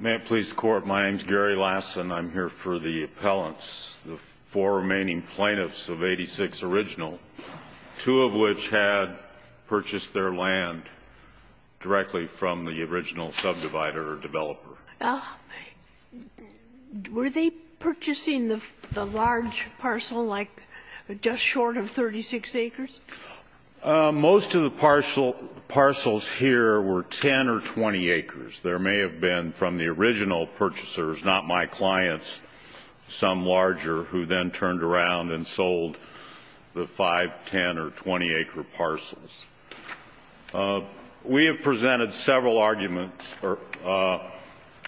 May it please the Court, my name is Gary Lassen. I'm here for the appellants, the four remaining plaintiffs of 86 original, two of which had purchased their land directly from the original subdivider or developer. Were they purchasing the large parcel, like, just short of 36 acres? Most of the parcels here were 10 or 20 acres. There may have been, from the original purchasers, not my clients, some larger, who then turned around and sold the 5, 10, or 20 acre parcels. We have presented several arguments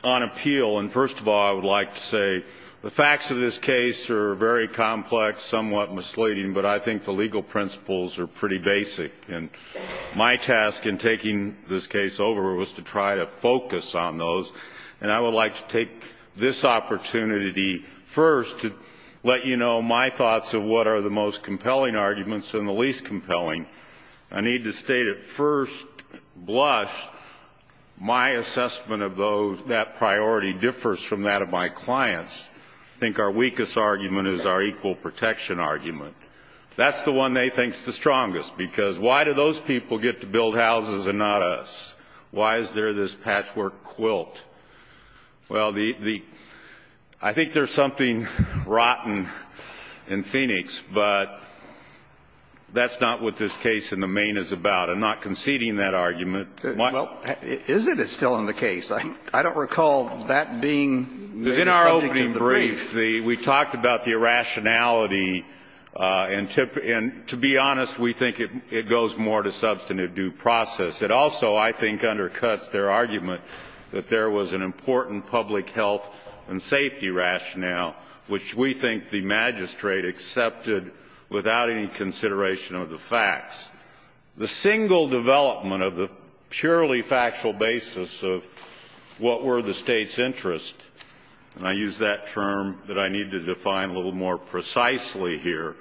on appeal, and first of all, I would like to say the facts of this case are very complex, somewhat misleading, but I think the legal principles are pretty basic. And my task in taking this case over was to try to focus on those, and I would like to take this opportunity first to let you know my thoughts of what are the most compelling arguments and the least compelling. I need to state at first blush, my assessment of that priority differs from that of my clients. I think our weakest argument is our equal protection argument. That's the one they think is the strongest, because why do those people get to build houses and not us? Why is there this patchwork quilt? Well, I think there's something rotten in Phoenix, but that's not what this case in the main is about. I'm not conceding that argument. Well, isn't it still in the case? I don't recall that being the subject of the brief. In our opening brief, we talked about the irrationality, and to be honest, we think it goes more to substantive due process. It also, I think, undercuts their argument that there was an important public health and safety rationale, which we think the magistrate accepted without any consideration of the facts. The single development of the purely factual basis of what were the state's interests, and I use that term that I need to define a little more precisely here,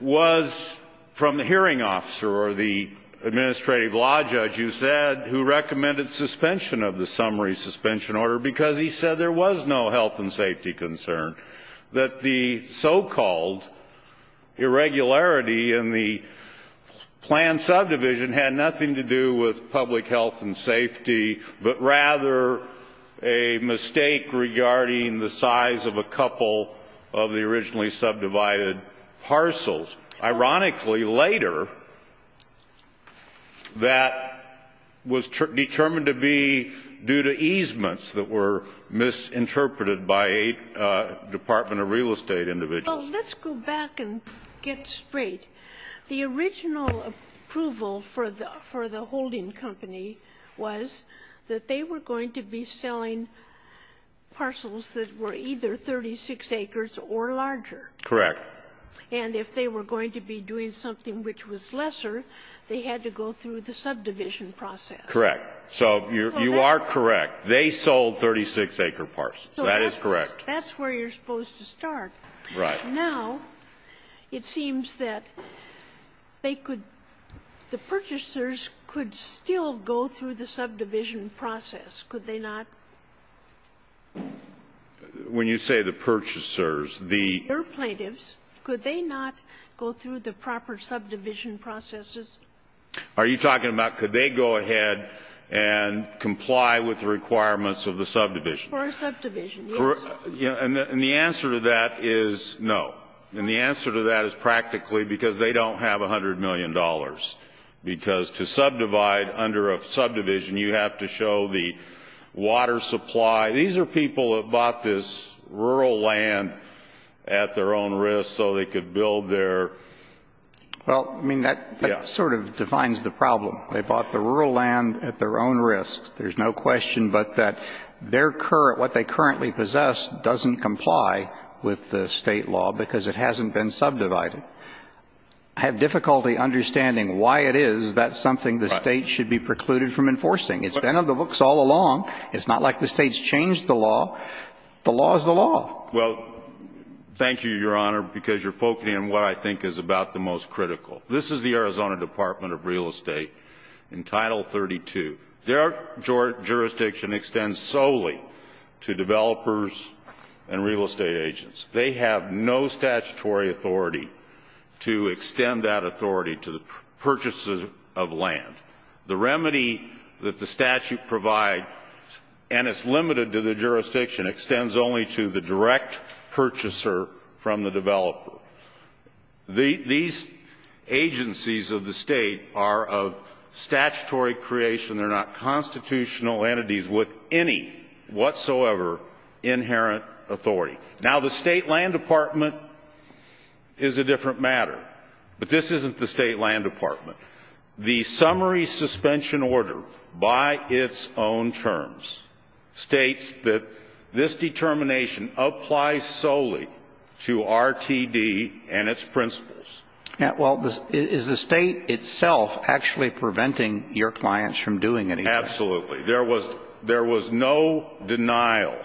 was from the hearing officer or the administrative law judge, you said, who recommended suspension of the summary suspension order because he said there was no health and safety concern. That the so-called irregularity in the planned subdivision had nothing to do with public health and safety, but rather a mistake regarding the size of a couple of the originally subdivided parcels. Ironically, later, that was determined to be due to easements that were misinterpreted by a department of real estate individual. Well, let's go back and get straight. The original approval for the holding company was that they were going to be selling parcels that were either 36 acres or larger. Correct. And if they were going to be doing something which was lesser, they had to go through the subdivision process. Correct. So you are correct. They sold 36-acre parcels. That is correct. That's where you're supposed to start. Right. Now, it seems that they could the purchasers could still go through the subdivision process, could they not? When you say the purchasers, the Your plaintiffs, could they not go through the proper subdivision processes? Are you talking about could they go ahead and comply with the requirements of the subdivision? For a subdivision, yes. And the answer to that is no. And the answer to that is practically because they don't have $100 million. Because to subdivide under a subdivision, you have to show the water supply. These are people that bought this rural land at their own risk so they could build their ---- Well, I mean, that sort of defines the problem. They bought the rural land at their own risk. There's no question but that what they currently possess doesn't comply with the state law because it hasn't been subdivided. I have difficulty understanding why it is that's something the state should be precluded from enforcing. It's been in the books all along. It's not like the state's changed the law. The law is the law. Well, thank you, Your Honor, because you're focusing on what I think is about the most critical. This is the Arizona Department of Real Estate in Title 32. Their jurisdiction extends solely to developers and real estate agents. They have no statutory authority to extend that authority to the purchases of land. The remedy that the statute provides, and it's limited to the jurisdiction, extends only to the direct purchaser from the developer. These agencies of the state are of statutory creation. They're not constitutional entities with any whatsoever inherent authority. Now, the state land department is a different matter, but this isn't the state land department. The summary suspension order by its own terms states that this determination applies solely to RTD and its principles. Well, is the state itself actually preventing your clients from doing anything? Absolutely. There was no denial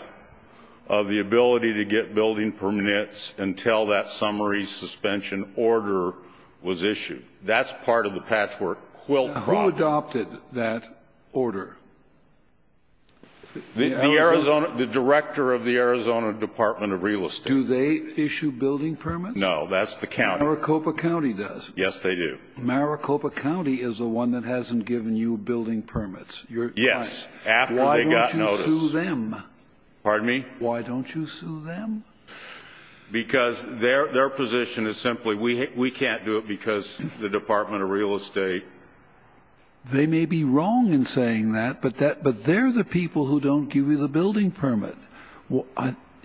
of the ability to get building permits until that summary suspension order was issued. That's part of the patchwork quilt problem. Now, who adopted that order? The director of the Arizona Department of Real Estate. Do they issue building permits? No, that's the county. Maricopa County does. Yes, they do. Maricopa County is the one that hasn't given you building permits. Yes. Why don't you sue them? Pardon me? Why don't you sue them? Because their position is simply we can't do it because the Department of Real Estate. They may be wrong in saying that, but they're the people who don't give you the building permit.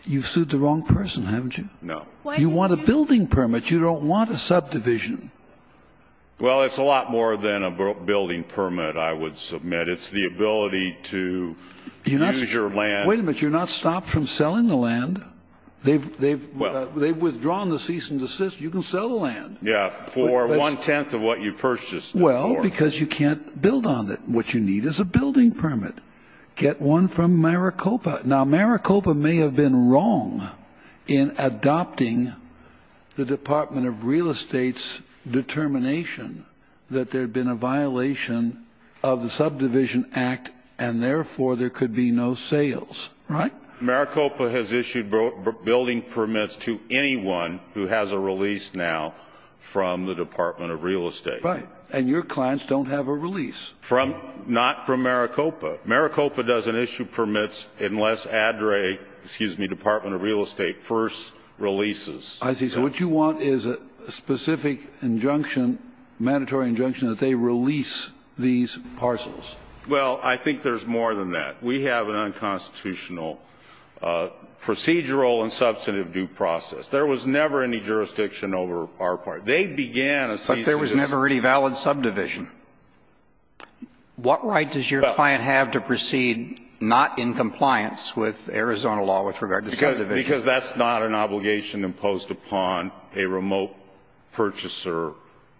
You've sued the wrong person, haven't you? No. You want a building permit. You don't want a subdivision. Well, it's a lot more than a building permit, I would submit. It's the ability to use your land. Wait a minute. You're not stopped from selling the land. They've withdrawn the cease and desist. You can sell the land. Yes, for one-tenth of what you purchased before. Well, because you can't build on it. What you need is a building permit. Get one from Maricopa. Now, Maricopa may have been wrong in adopting the Department of Real Estate's determination that there had been a violation of the Subdivision Act, and therefore there could be no sales. Right? Maricopa has issued building permits to anyone who has a release now from the Department of Real Estate. Right. And your clients don't have a release. Not from Maricopa. Maricopa doesn't issue permits unless ADRA, excuse me, Department of Real Estate first releases. I see. So what you want is a specific injunction, mandatory injunction, that they release these parcels. Well, I think there's more than that. We have an unconstitutional procedural and substantive due process. There was never any jurisdiction over our part. They began a cease and desist. But there was never any valid subdivision. What right does your client have to proceed not in compliance with Arizona law with regard to subdivision? Because that's not an obligation imposed upon a remote purchaser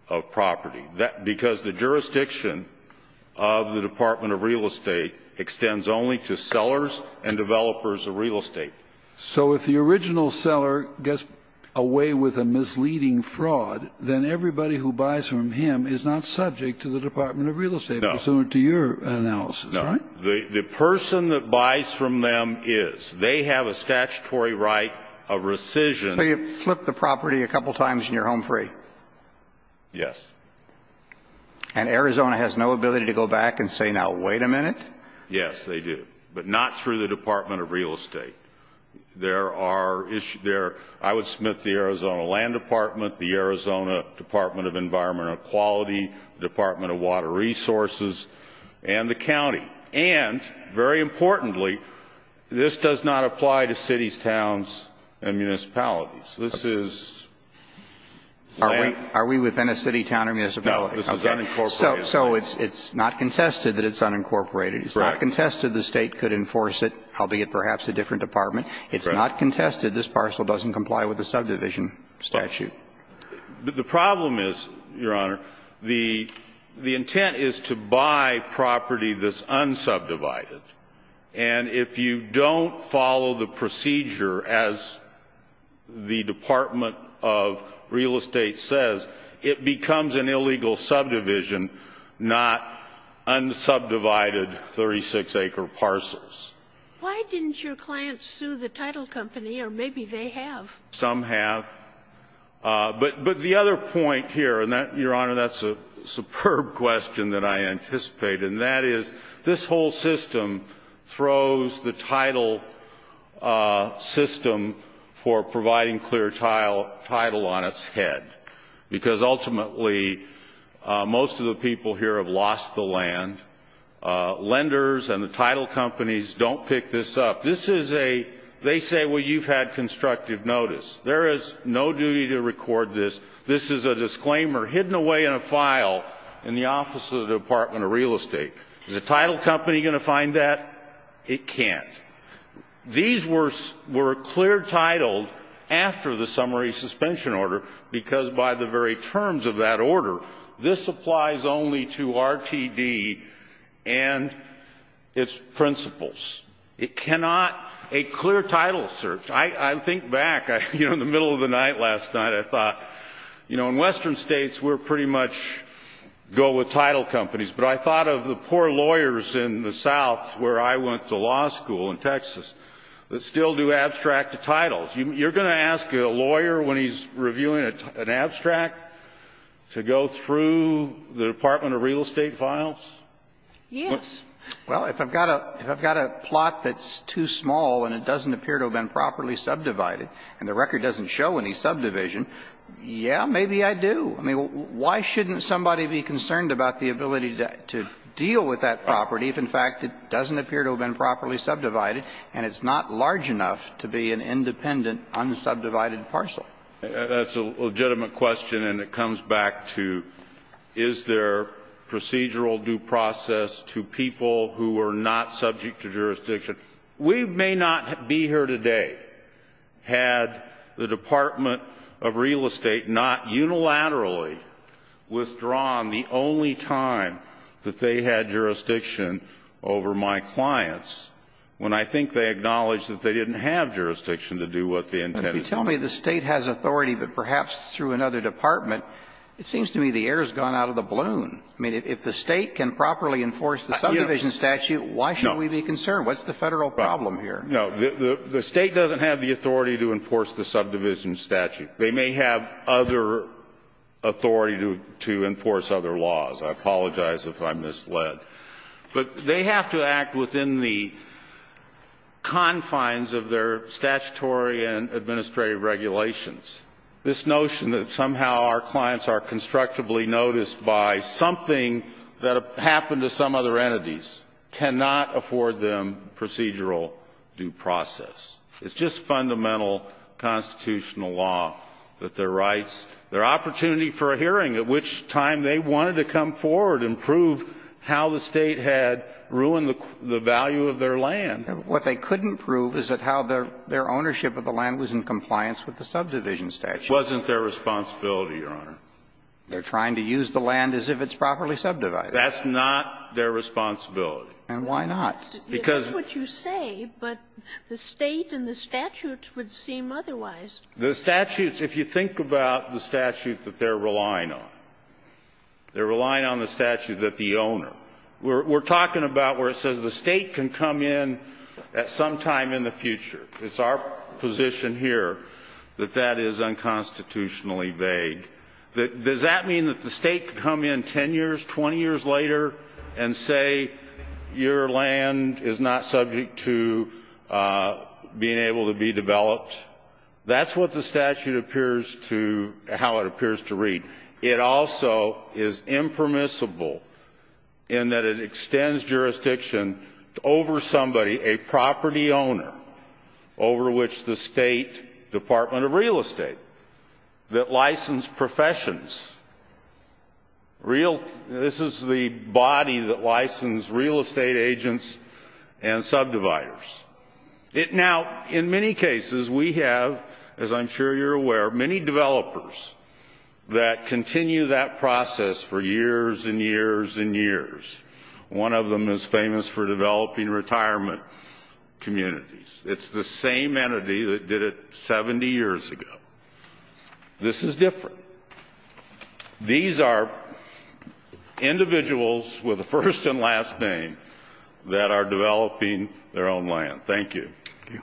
of property. Because the jurisdiction of the Department of Real Estate extends only to sellers and developers of real estate. So if the original seller gets away with a misleading fraud, then everybody who buys from him is not subject to the Department of Real Estate, pursuant to your analysis, right? No. The person that buys from them is. They have a statutory right, a rescission. So you flip the property a couple times and you're home free. Yes. And Arizona has no ability to go back and say, now, wait a minute? Yes, they do. But not through the Department of Real Estate. There are issues there. I would submit the Arizona Land Department, the Arizona Department of Environmental Quality, the Department of Water Resources, and the county. And, very importantly, this does not apply to cities, towns, and municipalities. This is land. Are we within a city, town, or municipality? No, this is unincorporated. So it's not contested that it's unincorporated. It's not contested the State could enforce it, albeit perhaps a different department. It's not contested this parcel doesn't comply with the subdivision statute. The problem is, Your Honor, the intent is to buy property that's unsubdivided. And if you don't follow the procedure, as the Department of Real Estate says, it becomes an illegal subdivision, not unsubdivided 36-acre parcels. Why didn't your clients sue the title company? Or maybe they have. Some have. But the other point here, and, Your Honor, that's a superb question that I anticipate. And that is, this whole system throws the title system for providing clear title on its head. Because, ultimately, most of the people here have lost the land. Lenders and the title companies don't pick this up. This is a they say, well, you've had constructive notice. There is no duty to record this. This is a disclaimer hidden away in a file in the Office of the Department of Real Estate. Is the title company going to find that? It can't. These were clear titled after the summary suspension order, because by the very terms of that order, this applies only to RTD and its principles. It cannot be a clear title search. I think back, you know, in the middle of the night last night, I thought, you know, in western states we pretty much go with title companies. But I thought of the poor lawyers in the south where I went to law school in Texas that still do abstracted titles. You're going to ask a lawyer, when he's reviewing an abstract, to go through the Department of Real Estate files? Yes. Well, if I've got a plot that's too small and it doesn't appear to have been properly subdivided and the record doesn't show any subdivision, yeah, maybe I do. I mean, why shouldn't somebody be concerned about the ability to deal with that property if, in fact, it doesn't appear to have been properly subdivided and it's not large enough to be an independent, unsubdivided parcel? That's a legitimate question, and it comes back to is there procedural due process to people who are not subject to jurisdiction. We may not be here today had the Department of Real Estate not unilaterally withdrawn the only time that they had jurisdiction over my clients when I think they acknowledged that they didn't have jurisdiction to do what they intended to do. But if you tell me the State has authority, but perhaps through another department, it seems to me the air has gone out of the balloon. I mean, if the State can properly enforce the subdivision statute, why should we be concerned? What's the Federal problem here? No. The State doesn't have the authority to enforce the subdivision statute. They may have other authority to enforce other laws. I apologize if I'm misled. But they have to act within the confines of their statutory and administrative regulations. This notion that somehow our clients are constructively noticed by something that happened to some other entities cannot afford them procedural due process. It's just fundamental constitutional law that their rights, their opportunity for a hearing at which time they wanted to come forward and prove how the State had ruined the value of their land. What they couldn't prove is that how their ownership of the land was in compliance with the subdivision statute. It wasn't their responsibility, Your Honor. They're trying to use the land as if it's properly subdivided. That's not their responsibility. And why not? That's what you say, but the State and the statutes would seem otherwise. The statutes, if you think about the statute that they're relying on, they're relying on the statute that the owner. We're talking about where it says the State can come in at some time in the future. It's our position here that that is unconstitutionally vague. Does that mean that the State could come in 10 years, 20 years later and say your land is not subject to being able to be developed? That's what the statute appears to, how it appears to read. It also is impermissible in that it extends jurisdiction over somebody, a property owner, over which the State Department of Real Estate that licensed professions. This is the body that licensed real estate agents and subdividers. Now, in many cases, we have, as I'm sure you're aware, many developers that continue that process for years and years and years. One of them is famous for developing retirement communities. It's the same entity that did it 70 years ago. This is different. These are individuals with a first and last name that are developing their own land. Thank you. Thank you.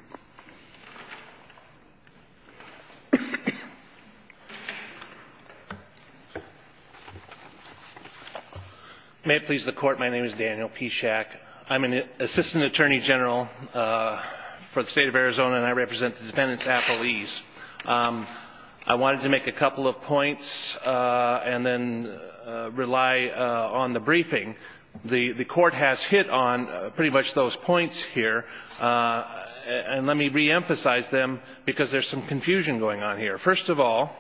May it please the Court, my name is Daniel Pishak. I'm an assistant attorney general for the State of Arizona, and I represent the defendants at police. I wanted to make a couple of points and then rely on the briefing. The Court has hit on pretty much those points here, and let me reemphasize them because there's some confusion going on here. First of all,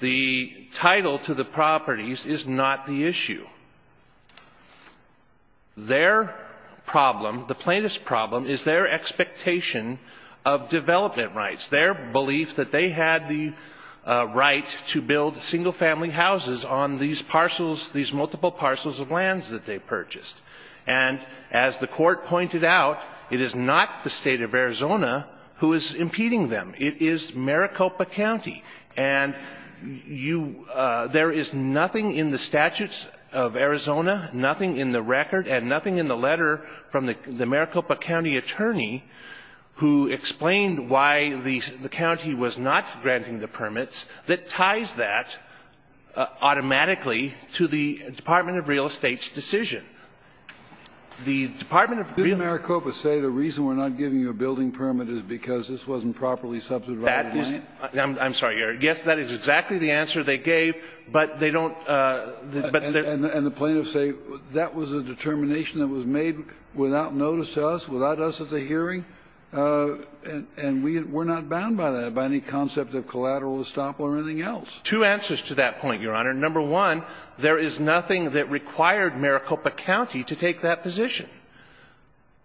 the title to the properties is not the issue. Their problem, the plaintiff's problem, is their expectation of development rights, their belief that they had the right to build single-family houses on these multiple parcels of lands that they purchased. And as the Court pointed out, it is not the State of Arizona who is impeding them. It is Maricopa County. And there is nothing in the statutes of Arizona, nothing in the record, and nothing in the letter from the Maricopa County attorney who explained why the county was not granting the permits that ties that automatically to the Department of Real Estate's decision. The Department of Real Estate ---- Kennedy, did Maricopa say the reason we're not giving you a building permit is because this wasn't properly subsidized land? I'm sorry, Your Honor. Yes, that is exactly the answer they gave, but they don't ---- And the plaintiffs say that was a determination that was made without notice to us, without us at the hearing, and we're not bound by that, by any concept of collateral estoppel or anything else. Two answers to that point, Your Honor. Number one, there is nothing that required Maricopa County to take that position.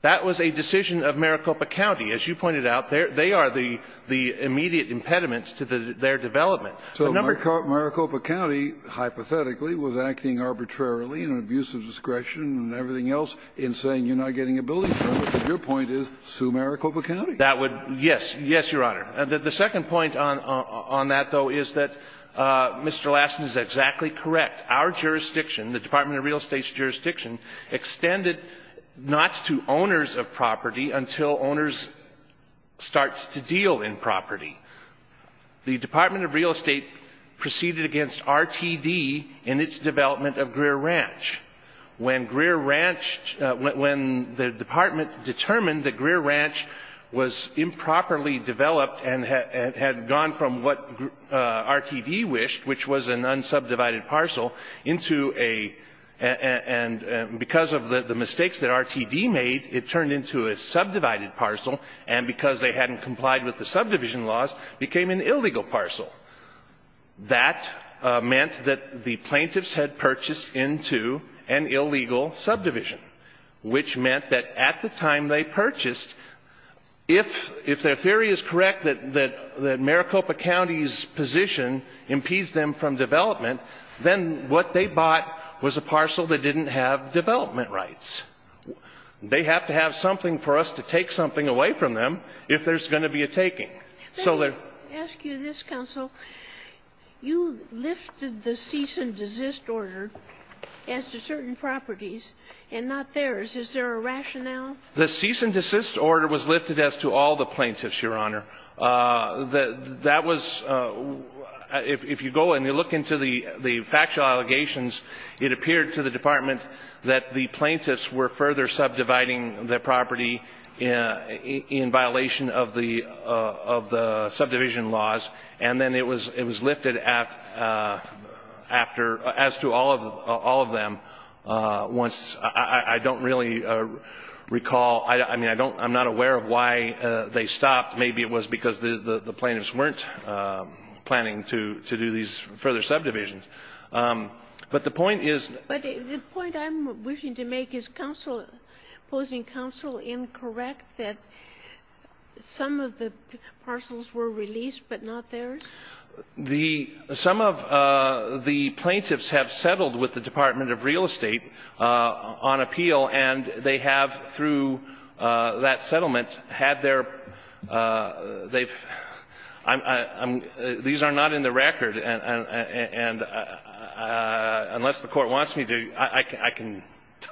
That was a decision of Maricopa County. As you pointed out, they are the immediate impediments to their development. So Maricopa County, hypothetically, was acting arbitrarily in an abuse of discretion and everything else in saying you're not getting a building permit. Your point is, sue Maricopa County. That would ---- yes. Yes, Your Honor. The second point on that, though, is that Mr. Lassen is exactly correct. Our jurisdiction, the Department of Real Estate's jurisdiction, extended not to owners of property until owners start to deal in property. The Department of Real Estate proceeded against RTD in its development of Greer Ranch when Greer Ranch ---- when the department determined that Greer Ranch was improperly developed and had gone from what RTD wished, which was an unsubdivided parcel, into a ---- and because of the mistakes that RTD made, it turned into a subdivided parcel, and because they hadn't complied with the subdivision laws, became an illegal parcel. That meant that the plaintiffs had purchased into an illegal subdivision, which meant that at the time they purchased, if their theory is correct that Maricopa County's position impedes them from development, then what they bought was a parcel that didn't have development rights. They have to have something for us to take something away from them if there's going to be a taking. So they're ---- Let me ask you this, Counsel. You lifted the cease and desist order as to certain properties and not theirs. Is there a rationale? The cease and desist order was lifted as to all the plaintiffs, Your Honor. That was ---- if you go and you look into the factual allegations, it appeared to the department that the plaintiffs were further subdividing the property in violation of the subdivision laws, and then it was lifted after, as to all of them once ---- I don't really recall. I mean, I don't ---- I'm not aware of why they stopped. Maybe it was because the plaintiffs weren't planning to do these further subdivisions. But the point is ---- But the point I'm wishing to make is, Counsel, opposing Counsel, incorrect that some of the parcels were released but not theirs? The ---- some of the plaintiffs have settled with the Department of Real Estate on appeal, and they have, through that settlement, had their ---- they've ---- I'm ---- These are not in the record. And unless the Court wants me to, I can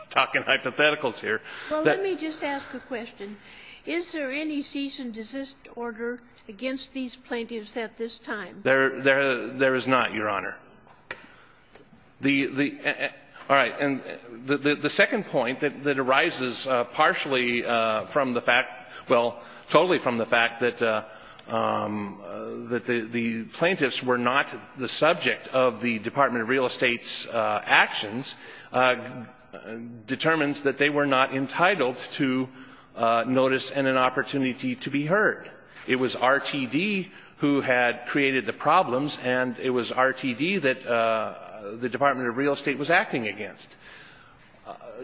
talk in hypotheticals here. Well, let me just ask a question. Is there any cease and desist order against these plaintiffs at this time? There is not, Your Honor. The ---- all right. And the second point that arises partially from the fact ---- well, totally from the fact that the plaintiffs were not the subject of the Department of Real Estate's actions determines that they were not entitled to notice and an opportunity to be heard. It was RTD who had created the problems, and it was RTD that the Department of Real Estate was acting against.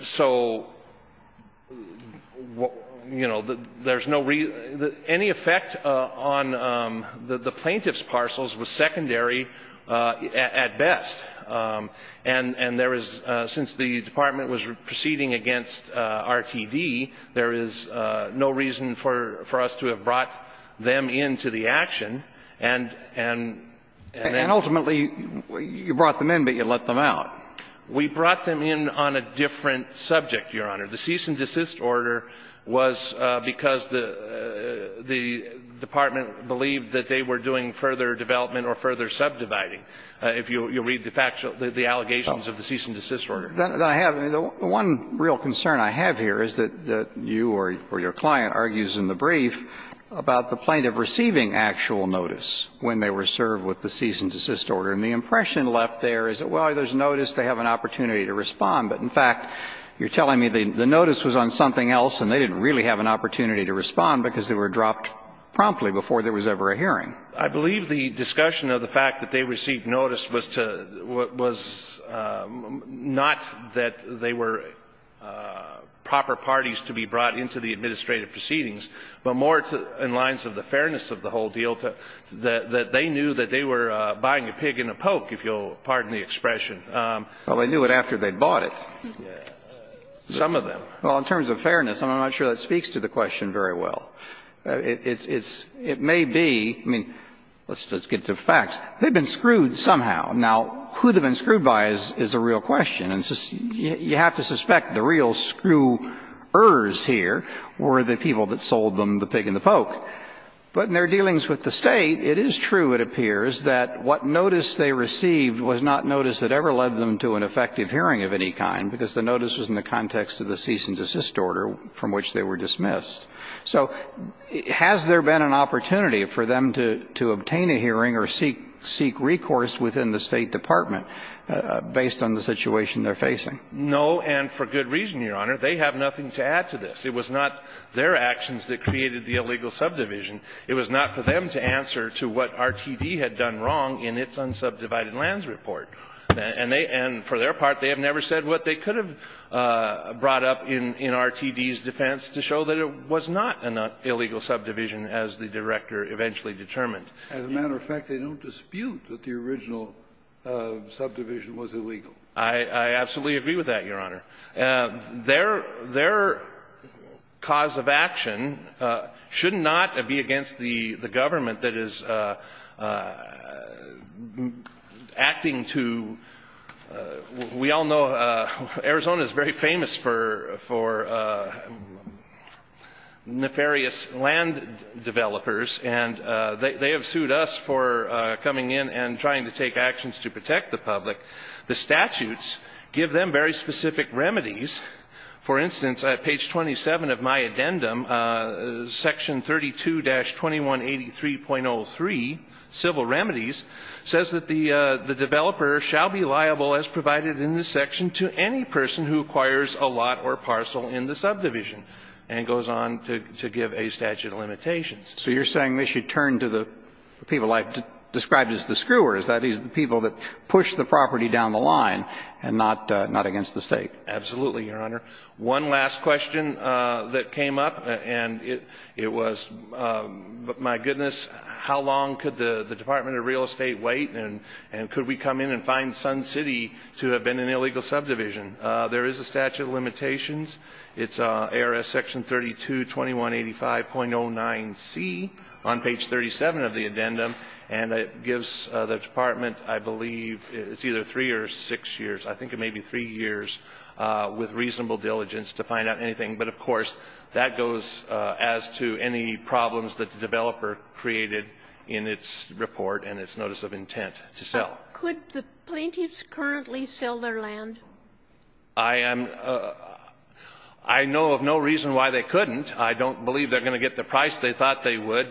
So, you know, there's no real ---- any effect on the plaintiff's parcels was secondary at best. And there is, since the Department was proceeding against RTD, there is no reason for us to have brought them into the action, and then ---- And ultimately, you brought them in, but you let them out. We brought them in on a different subject, Your Honor. The cease and desist order was because the department believed that they were doing further development or further subdividing. If you'll read the allegations of the cease and desist order. I have. The one real concern I have here is that you or your client argues in the brief about the plaintiff receiving actual notice when they were served with the cease and desist order. And the impression left there is that, well, there's notice, they have an opportunity to respond. But in fact, you're telling me the notice was on something else and they didn't really have an opportunity to respond because they were dropped promptly before there was ever a hearing. I believe the discussion of the fact that they received notice was to ---- was not that they were proper parties to be brought into the administrative proceedings, but more in lines of the fairness of the whole deal, that they knew that they were buying a pig and a poke, if you'll pardon the expression. Well, they knew it after they bought it. Some of them. Well, in terms of fairness, I'm not sure that speaks to the question very well. It's ---- it may be, I mean, let's get to the facts. They've been screwed somehow. Now, who they've been screwed by is a real question. And you have to suspect the real screwers here were the people that sold them the pig and the poke. But in their dealings with the State, it is true, it appears, that what notice they received was not notice that ever led them to an effective hearing of any kind because the notice was in the context of the cease and desist order from which they were dismissed. So has there been an opportunity for them to obtain a hearing or seek recourse within the State Department based on the situation they're facing? No, and for good reason, Your Honor. They have nothing to add to this. It was not their actions that created the illegal subdivision. It was not for them to answer to what RTD had done wrong in its unsubdivided lands report. And for their part, they have never said what they could have brought up in RTD's defense to show that it was not an illegal subdivision, as the Director eventually determined. As a matter of fact, they don't dispute that the original subdivision was illegal. I absolutely agree with that, Your Honor. Their cause of action should not be against the government that is acting to, we all know Arizona is very famous for nefarious land developers, and they have sued us for coming in and trying to take actions to protect the public. The statutes give them very specific remedies. For instance, at page 27 of my addendum, section 32-2183.03, civil remedies, says that the developer shall be liable as provided in this section to any person who acquires a lot or parcel in the subdivision, and goes on to give a statute of limitations. So you're saying they should turn to the people I've described as the screwers, that is, the people that push the property down the line, and not against the State? Absolutely, Your Honor. One last question that came up, and it was, my goodness, how long could the Department of Real Estate wait, and could we come in and find Sun City to have been an illegal subdivision? There is a statute of limitations. It's ARS section 32-2185.09C on page 37 of the addendum, and it gives the Department I believe it's either three or six years. I think it may be three years with reasonable diligence to find out anything. But, of course, that goes as to any problems that the developer created in its report and its notice of intent to sell. Could the plaintiffs currently sell their land? I am – I know of no reason why they couldn't. I don't believe they're going to get the price they thought they would,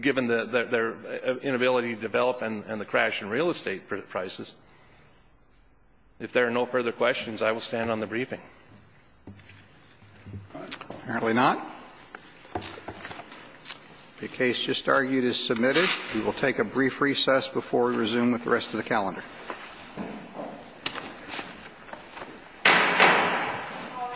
given their inability to develop and the crash in real estate prices. If there are no further questions, I will stand on the briefing. Apparently not. The case just argued is submitted. We will take a brief recess before we resume with the rest of the calendar.